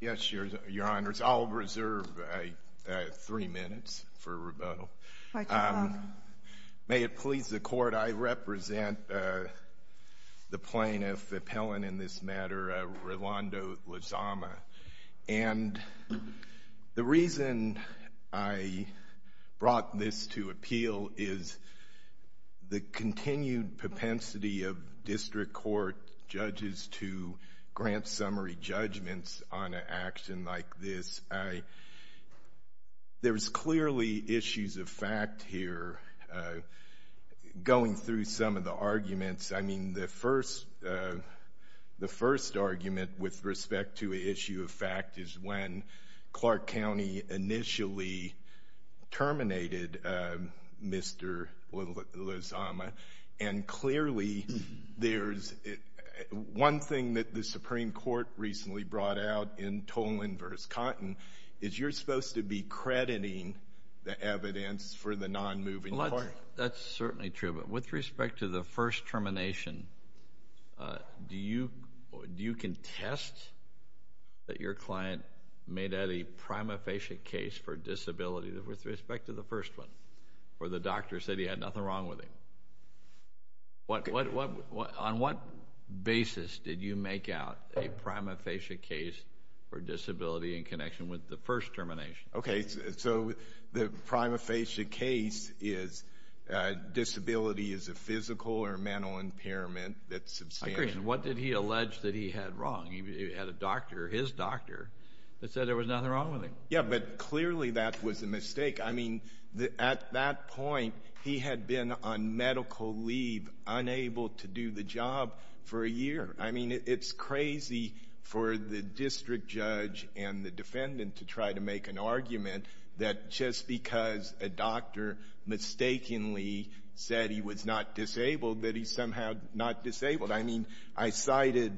Yes, Your Honors, I'll reserve three minutes for rebuttal. Dr. Clark. May it please the Court, I represent the plaintiff, appellant in this matter, Rolando Lezama. And the reason I brought this to appeal is the continued propensity of district court judges to grant summary judgments on an action like this. There's clearly issues of fact here. Going through some of the arguments, I mean, the first argument with respect to an issue of fact is when Clark County initially terminated Mr. Lezama. And clearly, there's one thing that the Supreme Court recently brought out in Tolan v. Cotton is you're supposed to be crediting the evidence for the non-moving court. That's certainly true. But with respect to the first termination, do you contest that your client made out a prima facie case for disability with respect to the first one, where the doctor said he had nothing wrong with him? On what basis did you make out a prima facie case for disability in connection with the first termination? Okay, so the prima facie case is disability is a physical or mental impairment that's substantial. I agree. And what did he allege that he had wrong? He had a doctor, his doctor, that said there was nothing wrong with him. Yeah, but clearly that was a mistake. I mean, at that point, he had been on medical leave, unable to do the job for a year. I mean, it's crazy for the district judge and the defendant to try to make an argument that just because a doctor mistakenly said he was not disabled, that he's somehow not disabled. I mean, I cited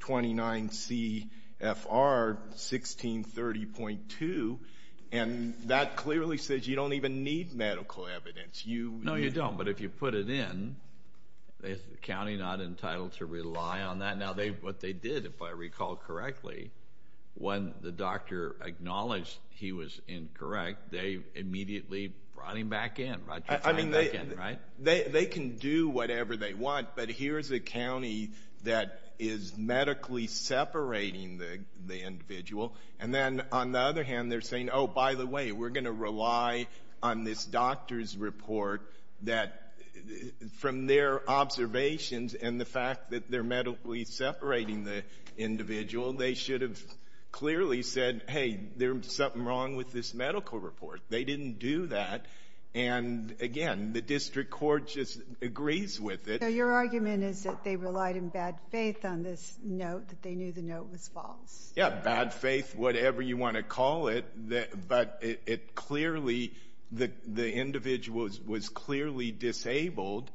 29 C.F.R. 1630.2, and that clearly says you don't even need medical evidence. No, you don't, but if you put it in, is the county not entitled to rely on that? Now, what they did, if I recall correctly, when the doctor acknowledged he was incorrect, they immediately brought him back in. I mean, they can do whatever they want, but here's a county that is medically separating the individual. And then on the other hand, they're saying, oh, by the way, we're going to rely on this doctor's report that from their observations and the fact that they're medically separating the individual, they should have clearly said, hey, there's something wrong with this medical report. They didn't do that. And again, the district court just agrees with it. So your argument is that they relied in bad faith on this note, that they knew the note was false. Yeah, bad faith, whatever you want to call it. But it clearly, the individual was clearly disabled,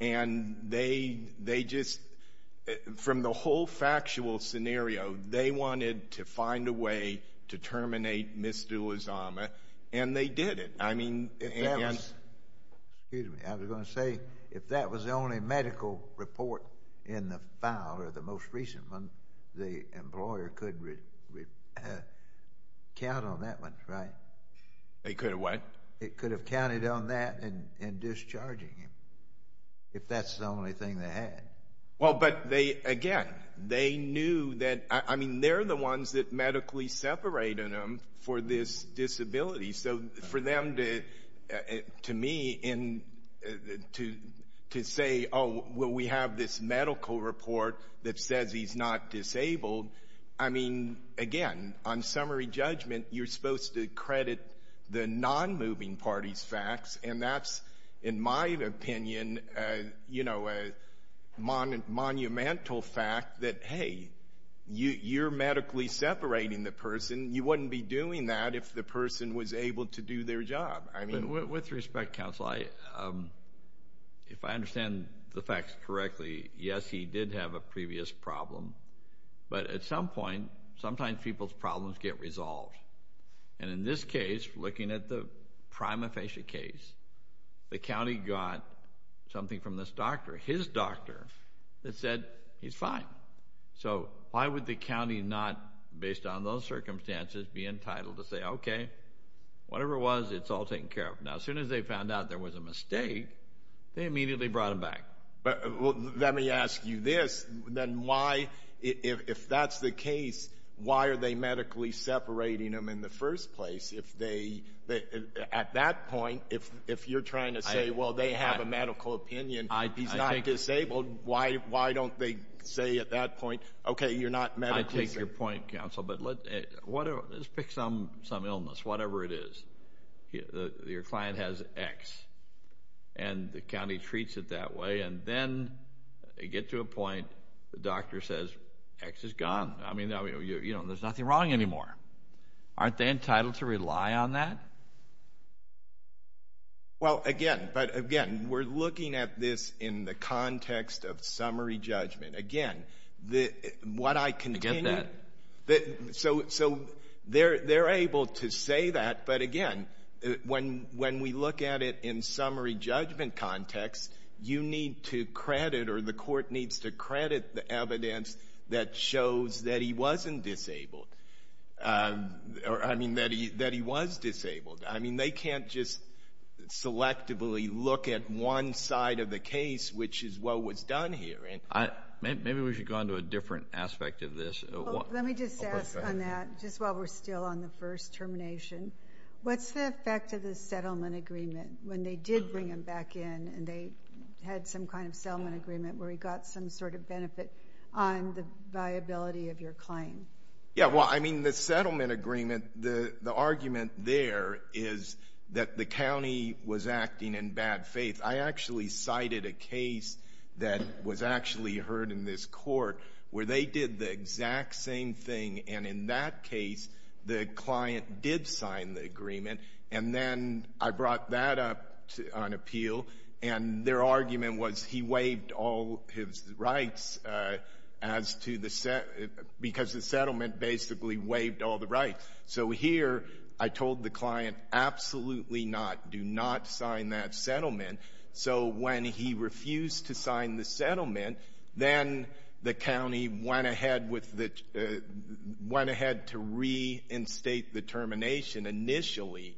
and they just, from the whole factual scenario, they wanted to find a way to terminate Ms. Dulazama, and they did it. Excuse me. I was going to say, if that was the only medical report in the file, or the most recent one, the employer could count on that one, right? They could have what? It could have counted on that in discharging him, if that's the only thing they had. Well, but they, again, they knew that, I mean, they're the ones that medically separated him for this disability. So for them to, to me, to say, oh, well, we have this medical report that says he's not disabled, I mean, again, on summary judgment, you're supposed to credit the non-moving party's facts, and that's, in my opinion, you know, a monumental fact that, hey, you're medically separating the person. You wouldn't be doing that if the person was able to do their job. With respect, counsel, if I understand the facts correctly, yes, he did have a previous problem. But at some point, sometimes people's problems get resolved. And in this case, looking at the prima facie case, the county got something from this doctor, his doctor, that said he's fine. So why would the county not, based on those circumstances, be entitled to say, okay, whatever it was, it's all taken care of. Now, as soon as they found out there was a mistake, they immediately brought him back. Well, let me ask you this. Then why, if that's the case, why are they medically separating him in the first place? If they, at that point, if you're trying to say, well, they have a medical opinion, he's not disabled, why don't they say at that point, okay, you're not medically separate. I take your point, counsel. But let's pick some illness, whatever it is. Your client has X, and the county treats it that way. And then they get to a point, the doctor says, X is gone. I mean, you know, there's nothing wrong anymore. Aren't they entitled to rely on that? Well, again, but, again, we're looking at this in the context of summary judgment. Again, what I can tell you. I get that. So they're able to say that, but, again, when we look at it in summary judgment context, you need to credit or the court needs to credit the evidence that shows that he wasn't disabled. I mean, that he was disabled. I mean, they can't just selectively look at one side of the case, which is what was done here. Maybe we should go on to a different aspect of this. Let me just ask on that, just while we're still on the first termination. What's the effect of the settlement agreement when they did bring him back in and they had some kind of settlement agreement where he got some sort of benefit on the viability of your claim? Yeah, well, I mean, the settlement agreement, the argument there is that the county was acting in bad faith. I actually cited a case that was actually heard in this court where they did the exact same thing, and in that case the client did sign the agreement, and then I brought that up on appeal, and their argument was he waived all his rights because the settlement basically waived all the rights. So here I told the client absolutely not, do not sign that settlement. So when he refused to sign the settlement, then the county went ahead to reinstate the termination initially,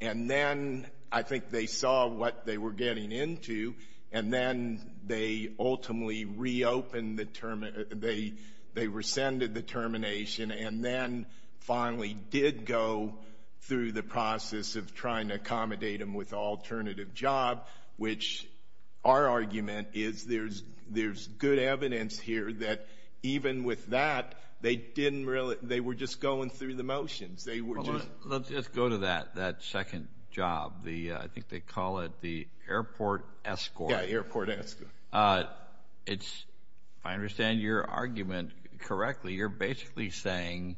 and then I think they saw what they were getting into, and then they ultimately reopened the termination, they rescinded the termination, and then finally did go through the process of trying to accommodate him with an alternative job, which our argument is there's good evidence here that even with that they didn't really, they were just going through the motions. Well, let's just go to that second job. I think they call it the airport escort. Yeah, airport escort. If I understand your argument correctly, you're basically saying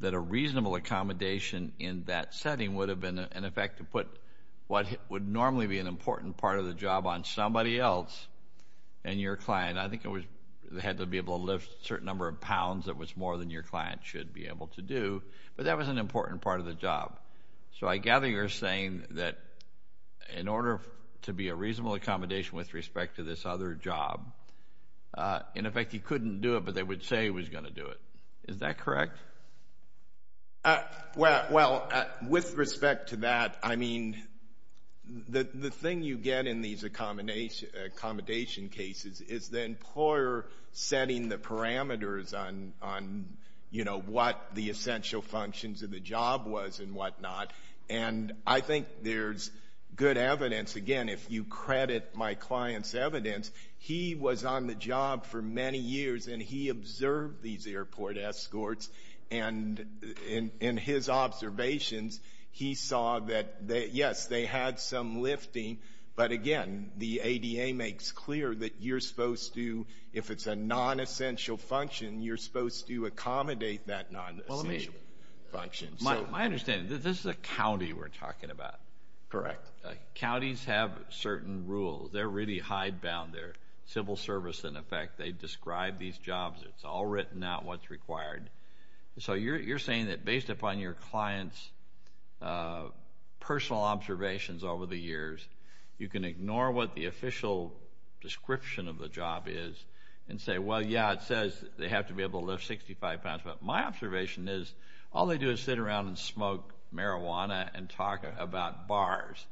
that a reasonable accommodation in that setting would have been, in effect, to put what would normally be an important part of the job on somebody else and your client. I think they had to be able to lift a certain number of pounds that was more than your client should be able to do, but that was an important part of the job. So I gather you're saying that in order to be a reasonable accommodation with respect to this other job, in effect he couldn't do it, but they would say he was going to do it. Is that correct? Well, with respect to that, I mean, the thing you get in these accommodation cases is the employer setting the parameters on, you know, what the essential functions of the job was and whatnot, and I think there's good evidence. Again, if you credit my client's evidence, he was on the job for many years, and he observed these airport escorts, and in his observations he saw that, yes, they had some lifting, but again, the ADA makes clear that you're supposed to, if it's a non-essential function, you're supposed to accommodate that non-essential function. My understanding, this is a county we're talking about. Correct. Counties have certain rules. They're really hidebound. They're civil service, in effect. They describe these jobs. It's all written out what's required. So you're saying that based upon your client's personal observations over the years, you can ignore what the official description of the job is and say, well, yeah, it says they have to be able to lift 65 pounds, but my observation is all they do is sit around and smoke marijuana and talk about bars.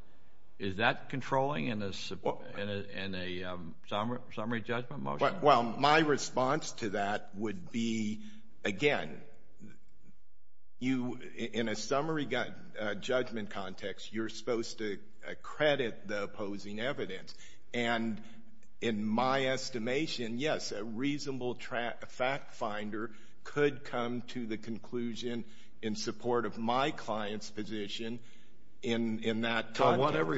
Is that controlling in a summary judgment motion? Well, my response to that would be, again, in a summary judgment context, you're supposed to credit the opposing evidence, and in my estimation, yes, a reasonable fact finder could come to the conclusion in support of my client's position in that context.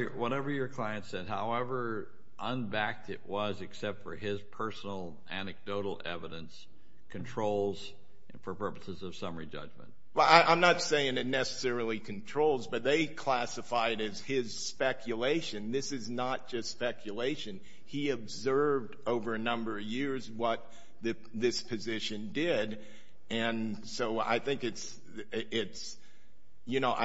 So whatever your client said, however unbacked it was, except for his personal anecdotal evidence, controls for purposes of summary judgment. Well, I'm not saying it necessarily controls, but they classify it as his speculation. This is not just speculation. He observed over a number of years what this position did, and so I think it's, you know.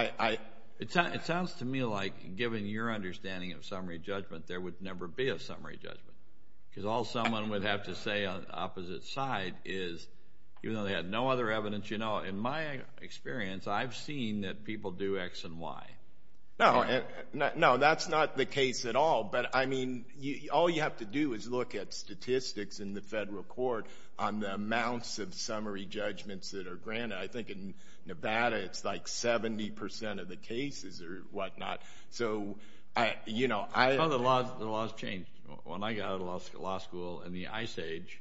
It sounds to me like, given your understanding of summary judgment, there would never be a summary judgment, because all someone would have to say on the opposite side is, even though they had no other evidence, you know, in my experience, I've seen that people do X and Y. No, that's not the case at all. But, I mean, all you have to do is look at statistics in the federal court on the amounts of summary judgments that are granted. I think in Nevada it's like 70% of the cases or whatnot. So, you know. The law has changed. When I got out of law school in the ice age,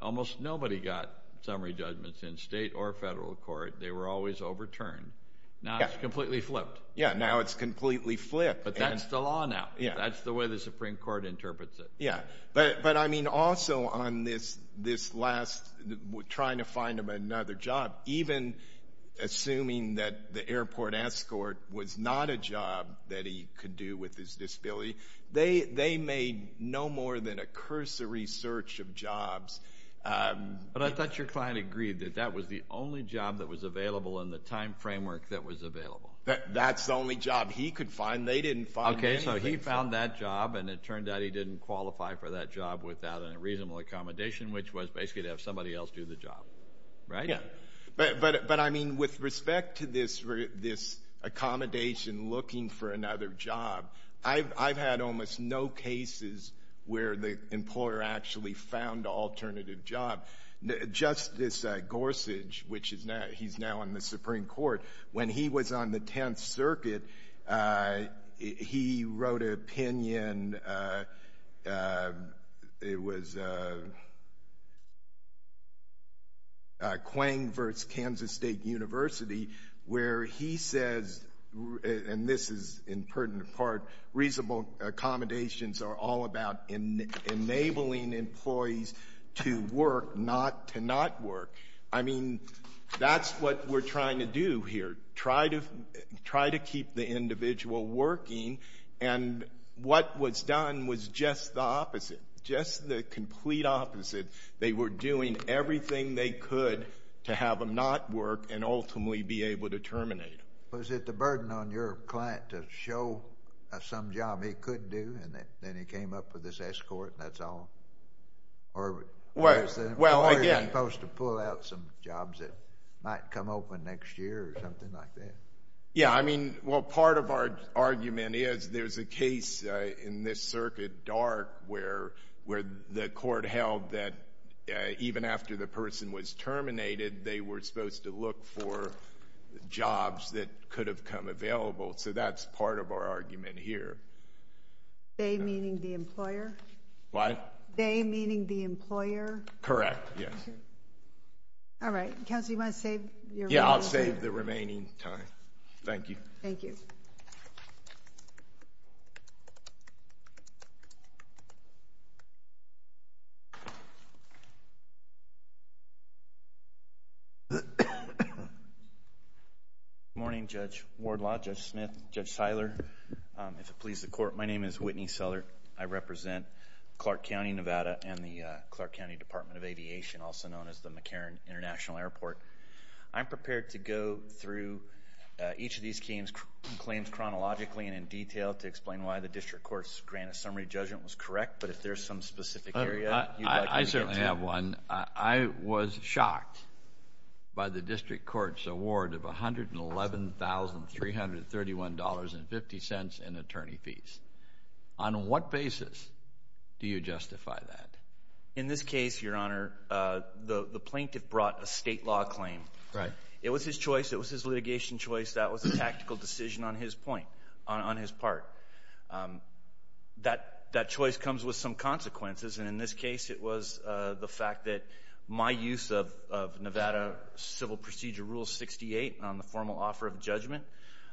almost nobody got summary judgments in state or federal court. They were always overturned. Now it's completely flipped. Yeah, now it's completely flipped. But that's the law now. That's the way the Supreme Court interprets it. Yeah. But, I mean, also on this last trying to find him another job, even assuming that the airport escort was not a job that he could do with his disability, they made no more than a cursory search of jobs. But I thought your client agreed that that was the only job that was available in the time framework that was available. That's the only job he could find. They didn't find anything. Well, he found that job, and it turned out he didn't qualify for that job without a reasonable accommodation, which was basically to have somebody else do the job. Right? Yeah. But, I mean, with respect to this accommodation looking for another job, I've had almost no cases where the employer actually found an alternative job. Justice Gorsuch, which he's now on the Supreme Court, when he was on the Tenth Circuit, he wrote an opinion. It was Quang versus Kansas State University, where he says, and this is in pertinent part, reasonable accommodations are all about enabling employees to work, not to not work. I mean, that's what we're trying to do here, try to keep the individual working. And what was done was just the opposite, just the complete opposite. They were doing everything they could to have them not work and ultimately be able to terminate them. Was it the burden on your client to show some job he could do, and then he came up with this escort and that's all? Or were you supposed to pull out some jobs that might come open next year or something like that? Yeah. I mean, well, part of our argument is there's a case in this circuit, Dark, where the court held that even after the person was terminated, they were supposed to look for jobs that could have come available. So that's part of our argument here. They meaning the employer? What? They meaning the employer? Correct, yes. All right. Counsel, you want to save your remaining time? Yeah, I'll save the remaining time. Thank you. Thank you. Good morning, Judge Wardlaw, Judge Smith, Judge Seiler. If it pleases the Court, my name is Whitney Seller. I represent Clark County, Nevada, and the Clark County Department of Aviation, also known as the McCarran International Airport. I'm prepared to go through each of these claims chronologically and in detail to explain why the district court's grant of summary judgment was correct. But if there's some specific area you'd like me to get to. I certainly have one. I was shocked by the district court's award of $111,331.50 in attorney fees. On what basis do you justify that? In this case, Your Honor, the plaintiff brought a state law claim. Right. It was his choice. It was his litigation choice. That was a tactical decision on his point, on his part. That choice comes with some consequences. And in this case, it was the fact that my use of Nevada Civil Procedure Rule 68 on the formal offer of judgment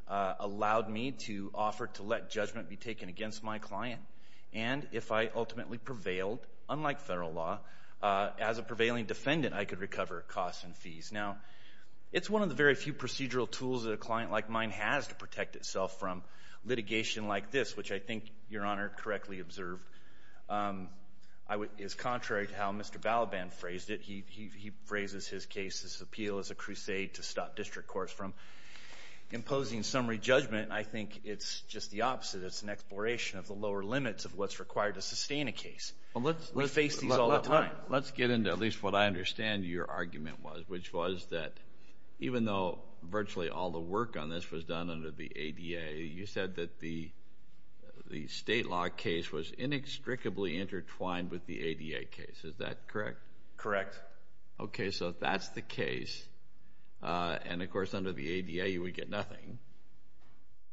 allowed me to offer to let judgment be taken against my client. And if I ultimately prevailed, unlike federal law, as a prevailing defendant, I could recover costs and fees. Now, it's one of the very few procedural tools that a client like mine has to protect itself from litigation like this, which I think Your Honor correctly observed is contrary to how Mr. Balaban phrased it. He phrases his case's appeal as a crusade to stop district courts from imposing summary judgment. I think it's just the opposite. It's an exploration of the lower limits of what's required to sustain a case. We face these all the time. Let's get into at least what I understand your argument was, which was that even though virtually all the work on this was done under the ADA, you said that the state law case was inextricably intertwined with the ADA case. Is that correct? Correct. Okay, so that's the case. And, of course, under the ADA you would get nothing.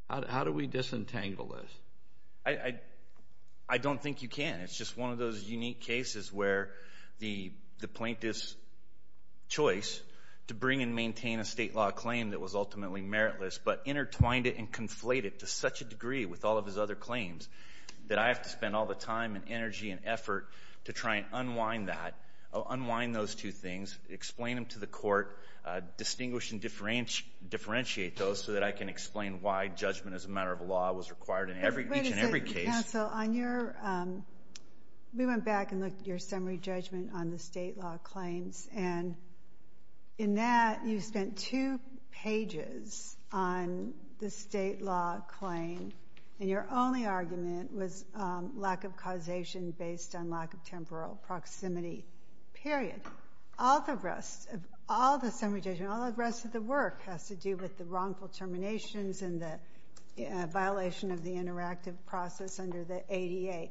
How do we disentangle this? I don't think you can. It's just one of those unique cases where the plaintiff's choice to bring and maintain a state law claim that was ultimately meritless but intertwined it and conflated it to such a degree with all of his other claims that I have to spend all the time and energy and effort to try and unwind that, unwind those two things, explain them to the court, distinguish and differentiate those so that I can explain why judgment as a matter of law was required in each and every case. Wait a second, counsel. We went back and looked at your summary judgment on the state law claims, and in that you spent two pages on the state law claim. And your only argument was lack of causation based on lack of temporal proximity, period. All the rest, all the summary judgment, all the rest of the work has to do with the wrongful terminations and the violation of the interactive process under the ADA.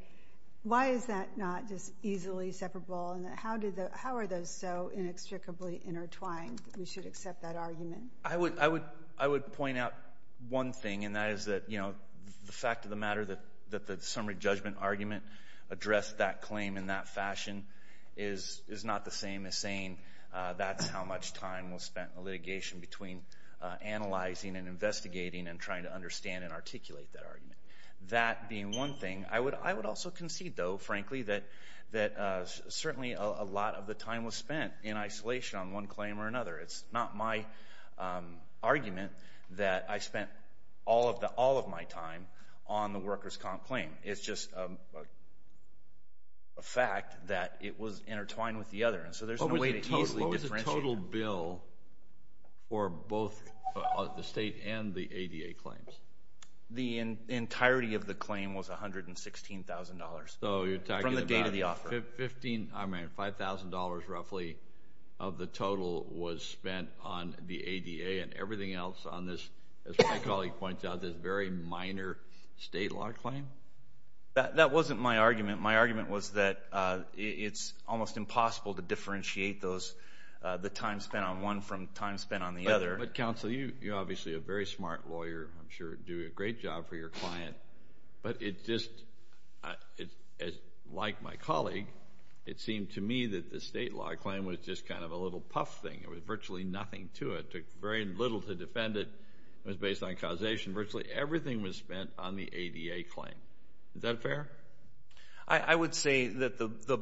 Why is that not just easily separable, and how are those so inextricably intertwined? We should accept that argument. I would point out one thing, and that is that the fact of the matter that the summary judgment argument addressed that claim in that fashion is not the same as saying that's how much time was spent in litigation between analyzing and investigating and trying to understand and articulate that argument. That being one thing, I would also concede, though, frankly, that certainly a lot of the time was spent in isolation on one claim or another. It's not my argument that I spent all of my time on the workers' comp claim. It's just a fact that it was intertwined with the other, and so there's no way to easily differentiate. What was the total bill for both the state and the ADA claims? The entirety of the claim was $116,000 from the date of the offer. $5,000 roughly of the total was spent on the ADA and everything else on this, as my colleague points out, this very minor state law claim? That wasn't my argument. My argument was that it's almost impossible to differentiate the time spent on one from time spent on the other. But, counsel, you're obviously a very smart lawyer. I'm sure you do a great job for your client. But it just, like my colleague, it seemed to me that the state law claim was just kind of a little puff thing. There was virtually nothing to it. It took very little to defend it. It was based on causation. Virtually everything was spent on the ADA claim. Is that fair? I would say that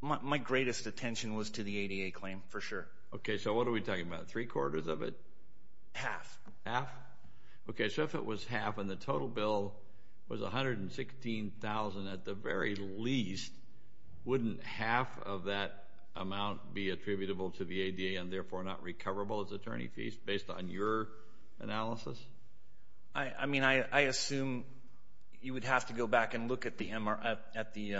my greatest attention was to the ADA claim, for sure. Okay, so what are we talking about, three-quarters of it? Half. Half? Half. Okay, so if it was half and the total bill was $116,000 at the very least, wouldn't half of that amount be attributable to the ADA and, therefore, not recoverable as attorney fees based on your analysis? I mean, I assume you would have to go back and look at the MR at the...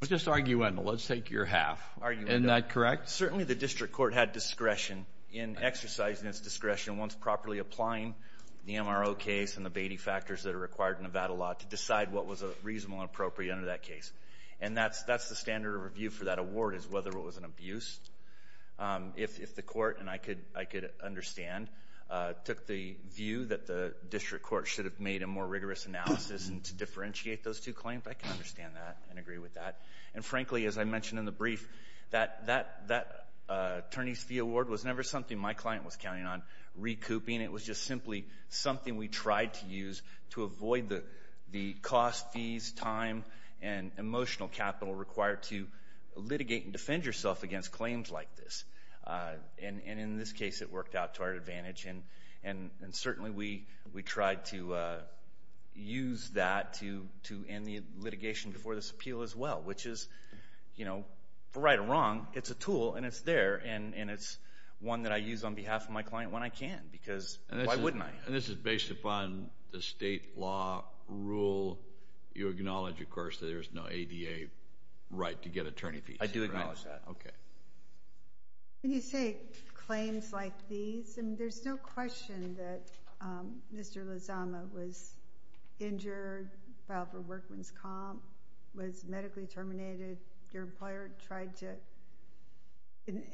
Let's just argue end. Let's take your half. Isn't that correct? Certainly the district court had discretion in exercising its discretion once properly applying the MRO case and the Beatty factors that are required in Nevada law to decide what was reasonable and appropriate under that case. And that's the standard of review for that award is whether it was an abuse. If the court, and I could understand, took the view that the district court should have made a more rigorous analysis and to differentiate those two claims, I can understand that and agree with that. And, frankly, as I mentioned in the brief, that attorney's fee award was never something my client was counting on. It wasn't recouping. It was just simply something we tried to use to avoid the cost, fees, time, and emotional capital required to litigate and defend yourself against claims like this. And in this case, it worked out to our advantage. And certainly we tried to use that to end the litigation before this appeal as well, which is, you know, right or wrong, it's a tool and it's there. And it's one that I use on behalf of my client when I can because why wouldn't I? And this is based upon the state law rule. You acknowledge, of course, that there's no ADA right to get attorney fees. I do acknowledge that. Okay. When you say claims like these, I mean there's no question that Mr. Lozama was injured, filed for workman's comp, was medically terminated. Your employer tried to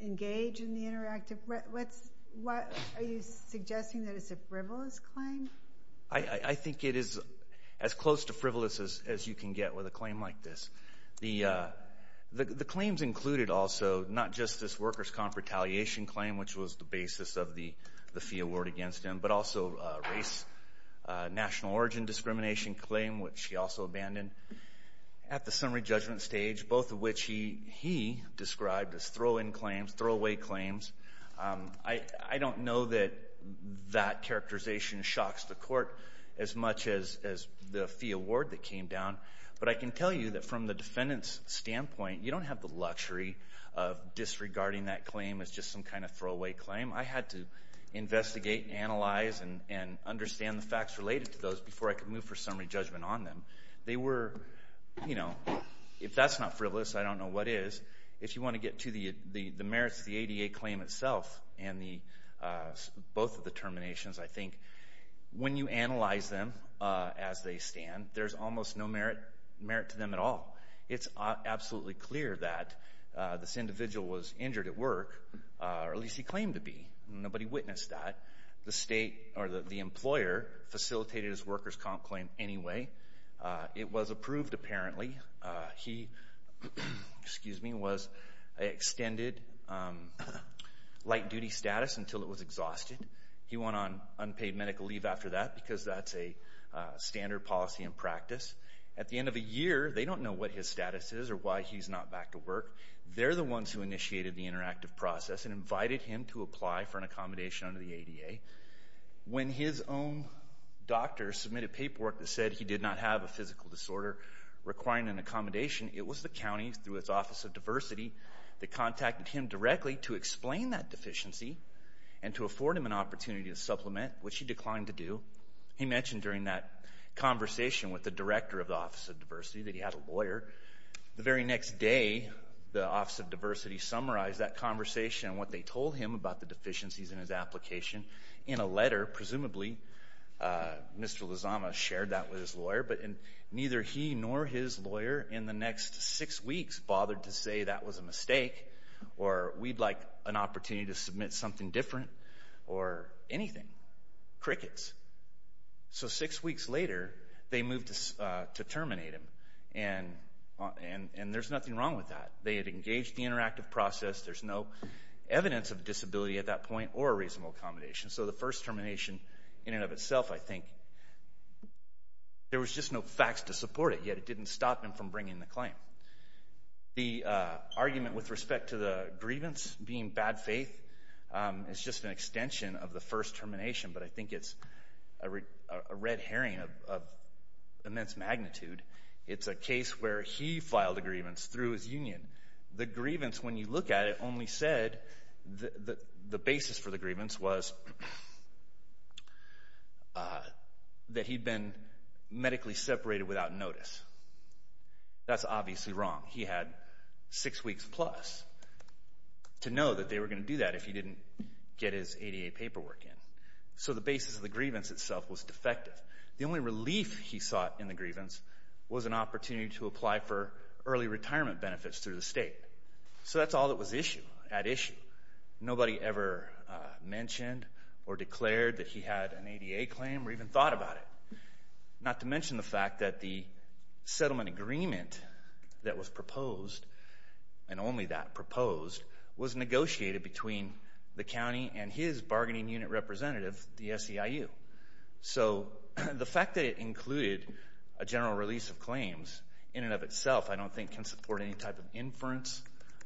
engage in the interactive. Are you suggesting that it's a frivolous claim? I think it is as close to frivolous as you can get with a claim like this. The claims included also not just this worker's comp retaliation claim, which was the basis of the fee award against him, but also race, national origin discrimination claim, which he also abandoned at the summary judgment stage, both of which he described as throw-in claims, throw-away claims. I don't know that that characterization shocks the court as much as the fee award that came down. But I can tell you that from the defendant's standpoint, you don't have the luxury of disregarding that claim as just some kind of throw-away claim. I had to investigate and analyze and understand the facts related to those before I could move for summary judgment on them. They were, you know, if that's not frivolous, I don't know what is. If you want to get to the merits of the ADA claim itself and both of the terminations, I think when you analyze them as they stand, there's almost no merit to them at all. It's absolutely clear that this individual was injured at work, or at least he claimed to be. Nobody witnessed that. The state or the employer facilitated his workers' comp claim anyway. It was approved, apparently. He was extended light-duty status until it was exhausted. He went on unpaid medical leave after that because that's a standard policy in practice. At the end of a year, they don't know what his status is or why he's not back to work. They're the ones who initiated the interactive process and invited him to apply for an accommodation under the ADA. When his own doctor submitted paperwork that said he did not have a physical disorder requiring an accommodation, it was the county, through its Office of Diversity, that contacted him directly to explain that deficiency and to afford him an opportunity to supplement, which he declined to do. He mentioned during that conversation with the director of the Office of Diversity that he had a lawyer. The very next day, the Office of Diversity summarized that conversation and what they told him about the deficiencies in his application in a letter. Presumably, Mr. Lozama shared that with his lawyer, but neither he nor his lawyer in the next six weeks bothered to say that was a mistake or we'd like an opportunity to submit something different or anything. Crickets. So six weeks later, they moved to terminate him, and there's nothing wrong with that. They had engaged the interactive process. There's no evidence of disability at that point or a reasonable accommodation. So the first termination in and of itself, I think, there was just no facts to support it, yet it didn't stop him from bringing the claim. The argument with respect to the grievance being bad faith is just an extension of the first termination, but I think it's a red herring of immense magnitude. It's a case where he filed a grievance through his union. The grievance, when you look at it, only said the basis for the grievance was that he'd been medically separated without notice. That's obviously wrong. He had six weeks plus to know that they were going to do that if he didn't get his ADA paperwork in. So the basis of the grievance itself was defective. The only relief he sought in the grievance was an opportunity to apply for early retirement benefits through the state. So that's all that was at issue. Nobody ever mentioned or declared that he had an ADA claim or even thought about it, not to mention the fact that the settlement agreement that was proposed and only that proposed was negotiated between the county and his bargaining unit representative, the SEIU. So the fact that it included a general release of claims in and of itself, I don't think, can support any type of inference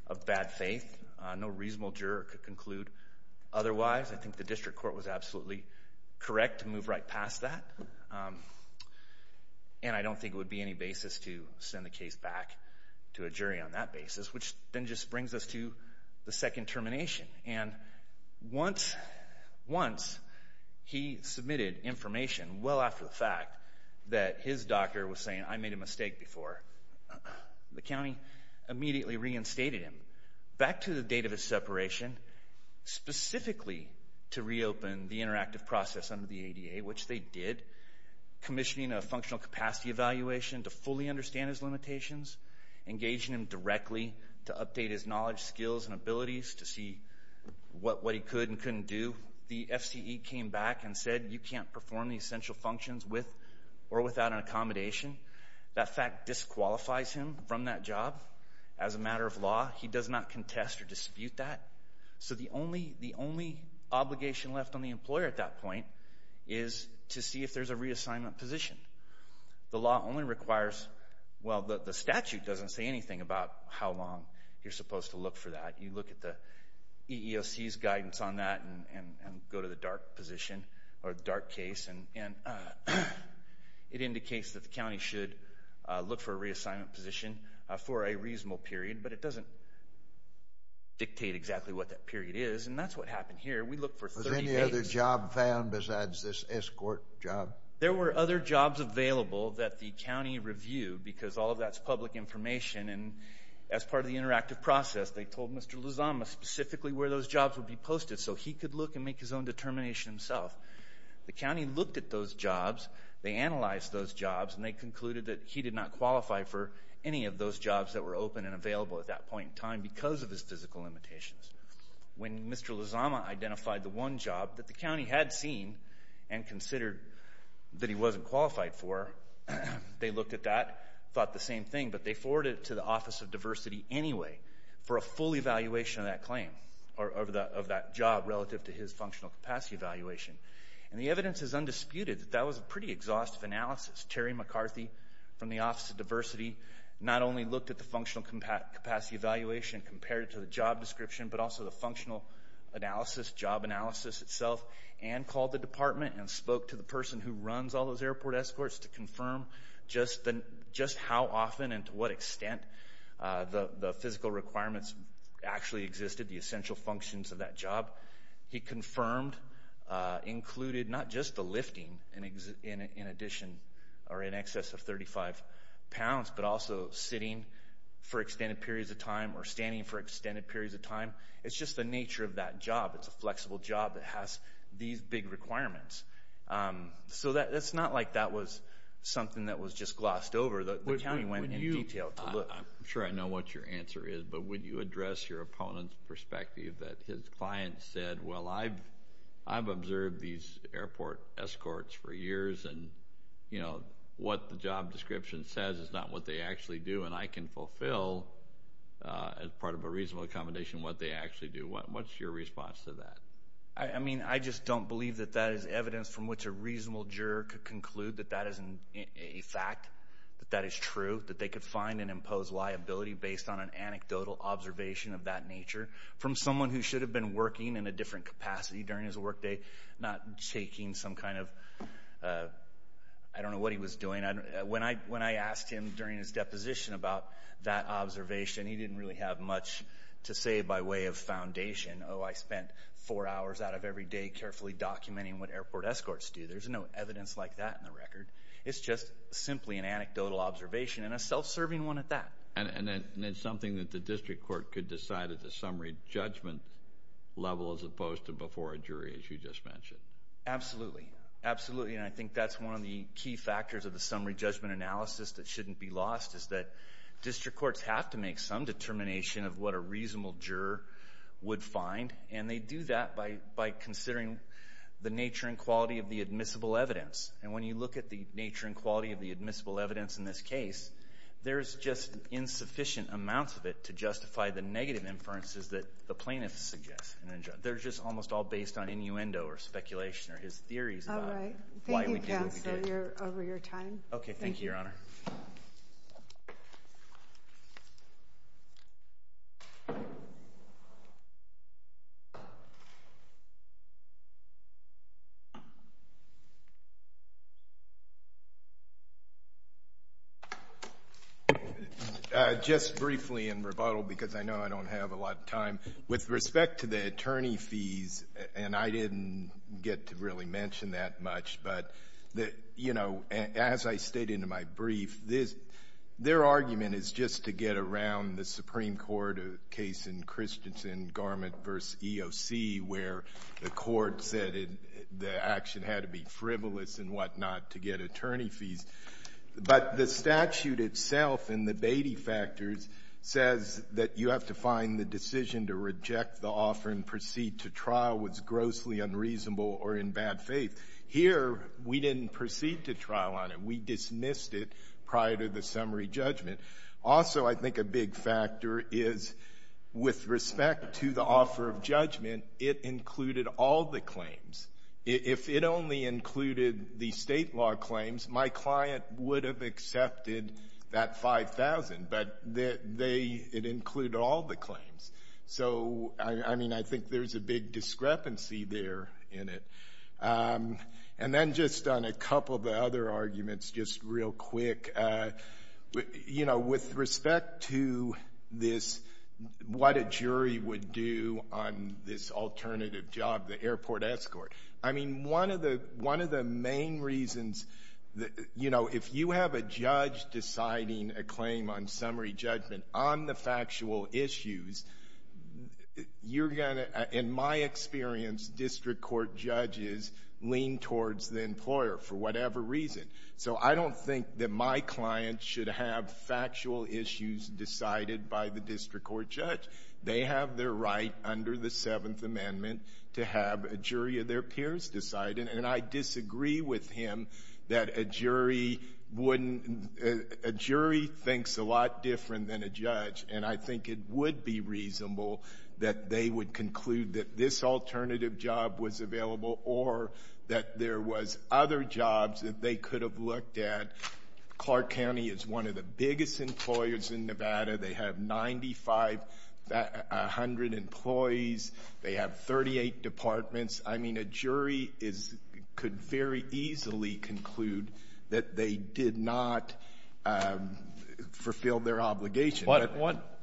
of bad faith. No reasonable juror could conclude otherwise. I think the district court was absolutely correct to move right past that, and I don't think it would be any basis to send the case back to a jury on that basis, which then just brings us to the second termination. And once he submitted information well after the fact that his doctor was saying, I made a mistake before, the county immediately reinstated him. Back to the date of his separation, specifically to reopen the interactive process under the ADA, which they did, commissioning a functional capacity evaluation to fully understand his limitations, engaging him directly to update his knowledge, skills, and abilities to see what he could and couldn't do. The FCE came back and said, you can't perform the essential functions with or without an accommodation. That fact disqualifies him from that job. As a matter of law, he does not contest or dispute that. So the only obligation left on the employer at that point is to see if there's a reassignment position. The law only requires, well, the statute doesn't say anything about how long you're supposed to look for that. You look at the EEOC's guidance on that and go to the DART position or DART case, and it indicates that the county should look for a reassignment position for a reasonable period, but it doesn't dictate exactly what that period is. And that's what happened here. We looked for 30 days. Was any other job found besides this escort job? There were other jobs available that the county reviewed because all of that's public information. And as part of the interactive process, they told Mr. Lozama specifically where those jobs would be posted so he could look and make his own determination himself. The county looked at those jobs, they analyzed those jobs, and they concluded that he did not qualify for any of those jobs that were open and available at that point in time because of his physical limitations. When Mr. Lozama identified the one job that the county had seen and considered that he wasn't qualified for, they looked at that, thought the same thing, but they forwarded it to the Office of Diversity anyway for a full evaluation of that claim or of that job relative to his functional capacity evaluation. And the evidence is undisputed that that was a pretty exhaustive analysis. Terry McCarthy from the Office of Diversity not only looked at the functional capacity evaluation compared to the job description, but also the functional analysis, job analysis itself, and called the department and spoke to the person who runs all those airport escorts to confirm just how often and to what extent the physical requirements actually existed, the essential functions of that job. He confirmed, included not just the lifting in addition or in excess of 35 pounds, but also sitting for extended periods of time or standing for extended periods of time. It's just the nature of that job. It's a flexible job that has these big requirements. So it's not like that was something that was just glossed over. The county went in detail to look. I'm sure I know what your answer is, but would you address your opponent's perspective that his client said, well, I've observed these airport escorts for years and what the job description says is not what they actually do and I can fulfill as part of a reasonable accommodation what they actually do. What's your response to that? I mean, I just don't believe that that is evidence from which a reasonable juror could conclude that that is a fact, that that is true, that they could find and impose liability based on an anecdotal observation of that nature from someone who should have been working in a different capacity during his workday, not taking some kind of, I don't know what he was doing. When I asked him during his deposition about that observation, he didn't really have much to say by way of foundation. Oh, I spent four hours out of every day carefully documenting what airport escorts do. There's no evidence like that in the record. It's just simply an anecdotal observation and a self-serving one at that. And it's something that the district court could decide at the summary judgment level as opposed to before a jury, as you just mentioned. Absolutely, absolutely, and I think that's one of the key factors of the summary judgment analysis that shouldn't be lost is that district courts have to make some determination of what a reasonable juror would find, and they do that by considering the nature and quality of the admissible evidence. And when you look at the nature and quality of the admissible evidence in this case, there's just insufficient amounts of it to justify the negative inferences that the plaintiff suggests. They're just almost all based on innuendo or speculation or his theories about why we can't... All right, thank you, counsel, over your time. Okay, thank you, Your Honor. Just briefly in rebuttal, because I know I don't have a lot of time, with respect to the attorney fees, and I didn't get to really mention that much, but, you know, as I stated in my brief, their argument is just to get around the Supreme Court case in Christensen, Garment v. EOC, where the court said the action had to be frivolous and whatnot to get attorney fees. But the statute itself in the Beatty factors says that you have to find the decision to reject the offer and proceed to trial was grossly unreasonable or in bad faith. Here, we didn't proceed to trial on it. We dismissed it prior to the summary judgment. Also, I think a big factor is, with respect to the offer of judgment, it included all the claims. If it only included the State law claims, my client would have accepted that $5,000, but it included all the claims. So, I mean, I think there's a big discrepancy there in it. And then just on a couple of the other arguments, just real quick, you know, with respect to what a jury would do on this alternative job, the airport escort, I mean, one of the main reasons that, you know, if you have a judge deciding a claim on summary judgment on the factual issues, you're going to, in my experience, district court judges lean towards the employer for whatever reason. So I don't think that my client should have factual issues decided by the district court judge. They have their right under the Seventh Amendment to have a jury of their peers decide, and I disagree with him that a jury wouldn't, a jury thinks a lot different than a judge, and I think it would be reasonable that they would conclude that this alternative job was available or that there was other jobs that they could have looked at. Clark County is one of the biggest employers in Nevada. They have 9,500 employees. They have 38 departments. I mean, a jury could very easily conclude that they did not fulfill their obligation.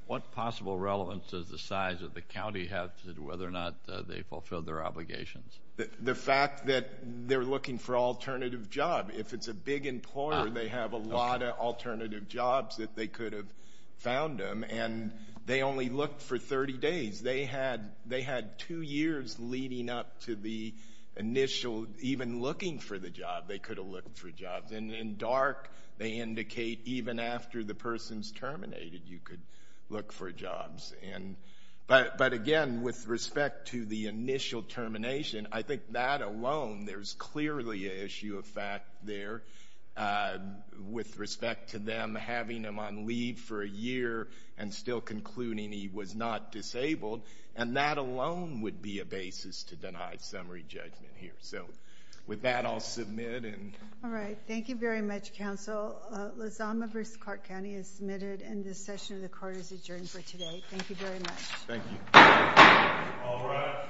What possible relevance does the size of the county have to whether or not they fulfilled their obligations? The fact that they're looking for alternative job. If it's a big employer, they have a lot of alternative jobs that they could have found them, and they only looked for 30 days. They had two years leading up to the initial, even looking for the job, they could have looked for jobs, and in dark, they indicate even after the person's terminated, you could look for jobs. But again, with respect to the initial termination, I think that alone, there's clearly an issue of fact there. With respect to them having him on leave for a year and still concluding he was not disabled, and that alone would be a basis to deny summary judgment here. So with that, I'll submit. All right. Thank you very much, counsel. Lozama v. Clark County is submitted, and this session of the court is adjourned for today. Thank you very much. Thank you. All rise.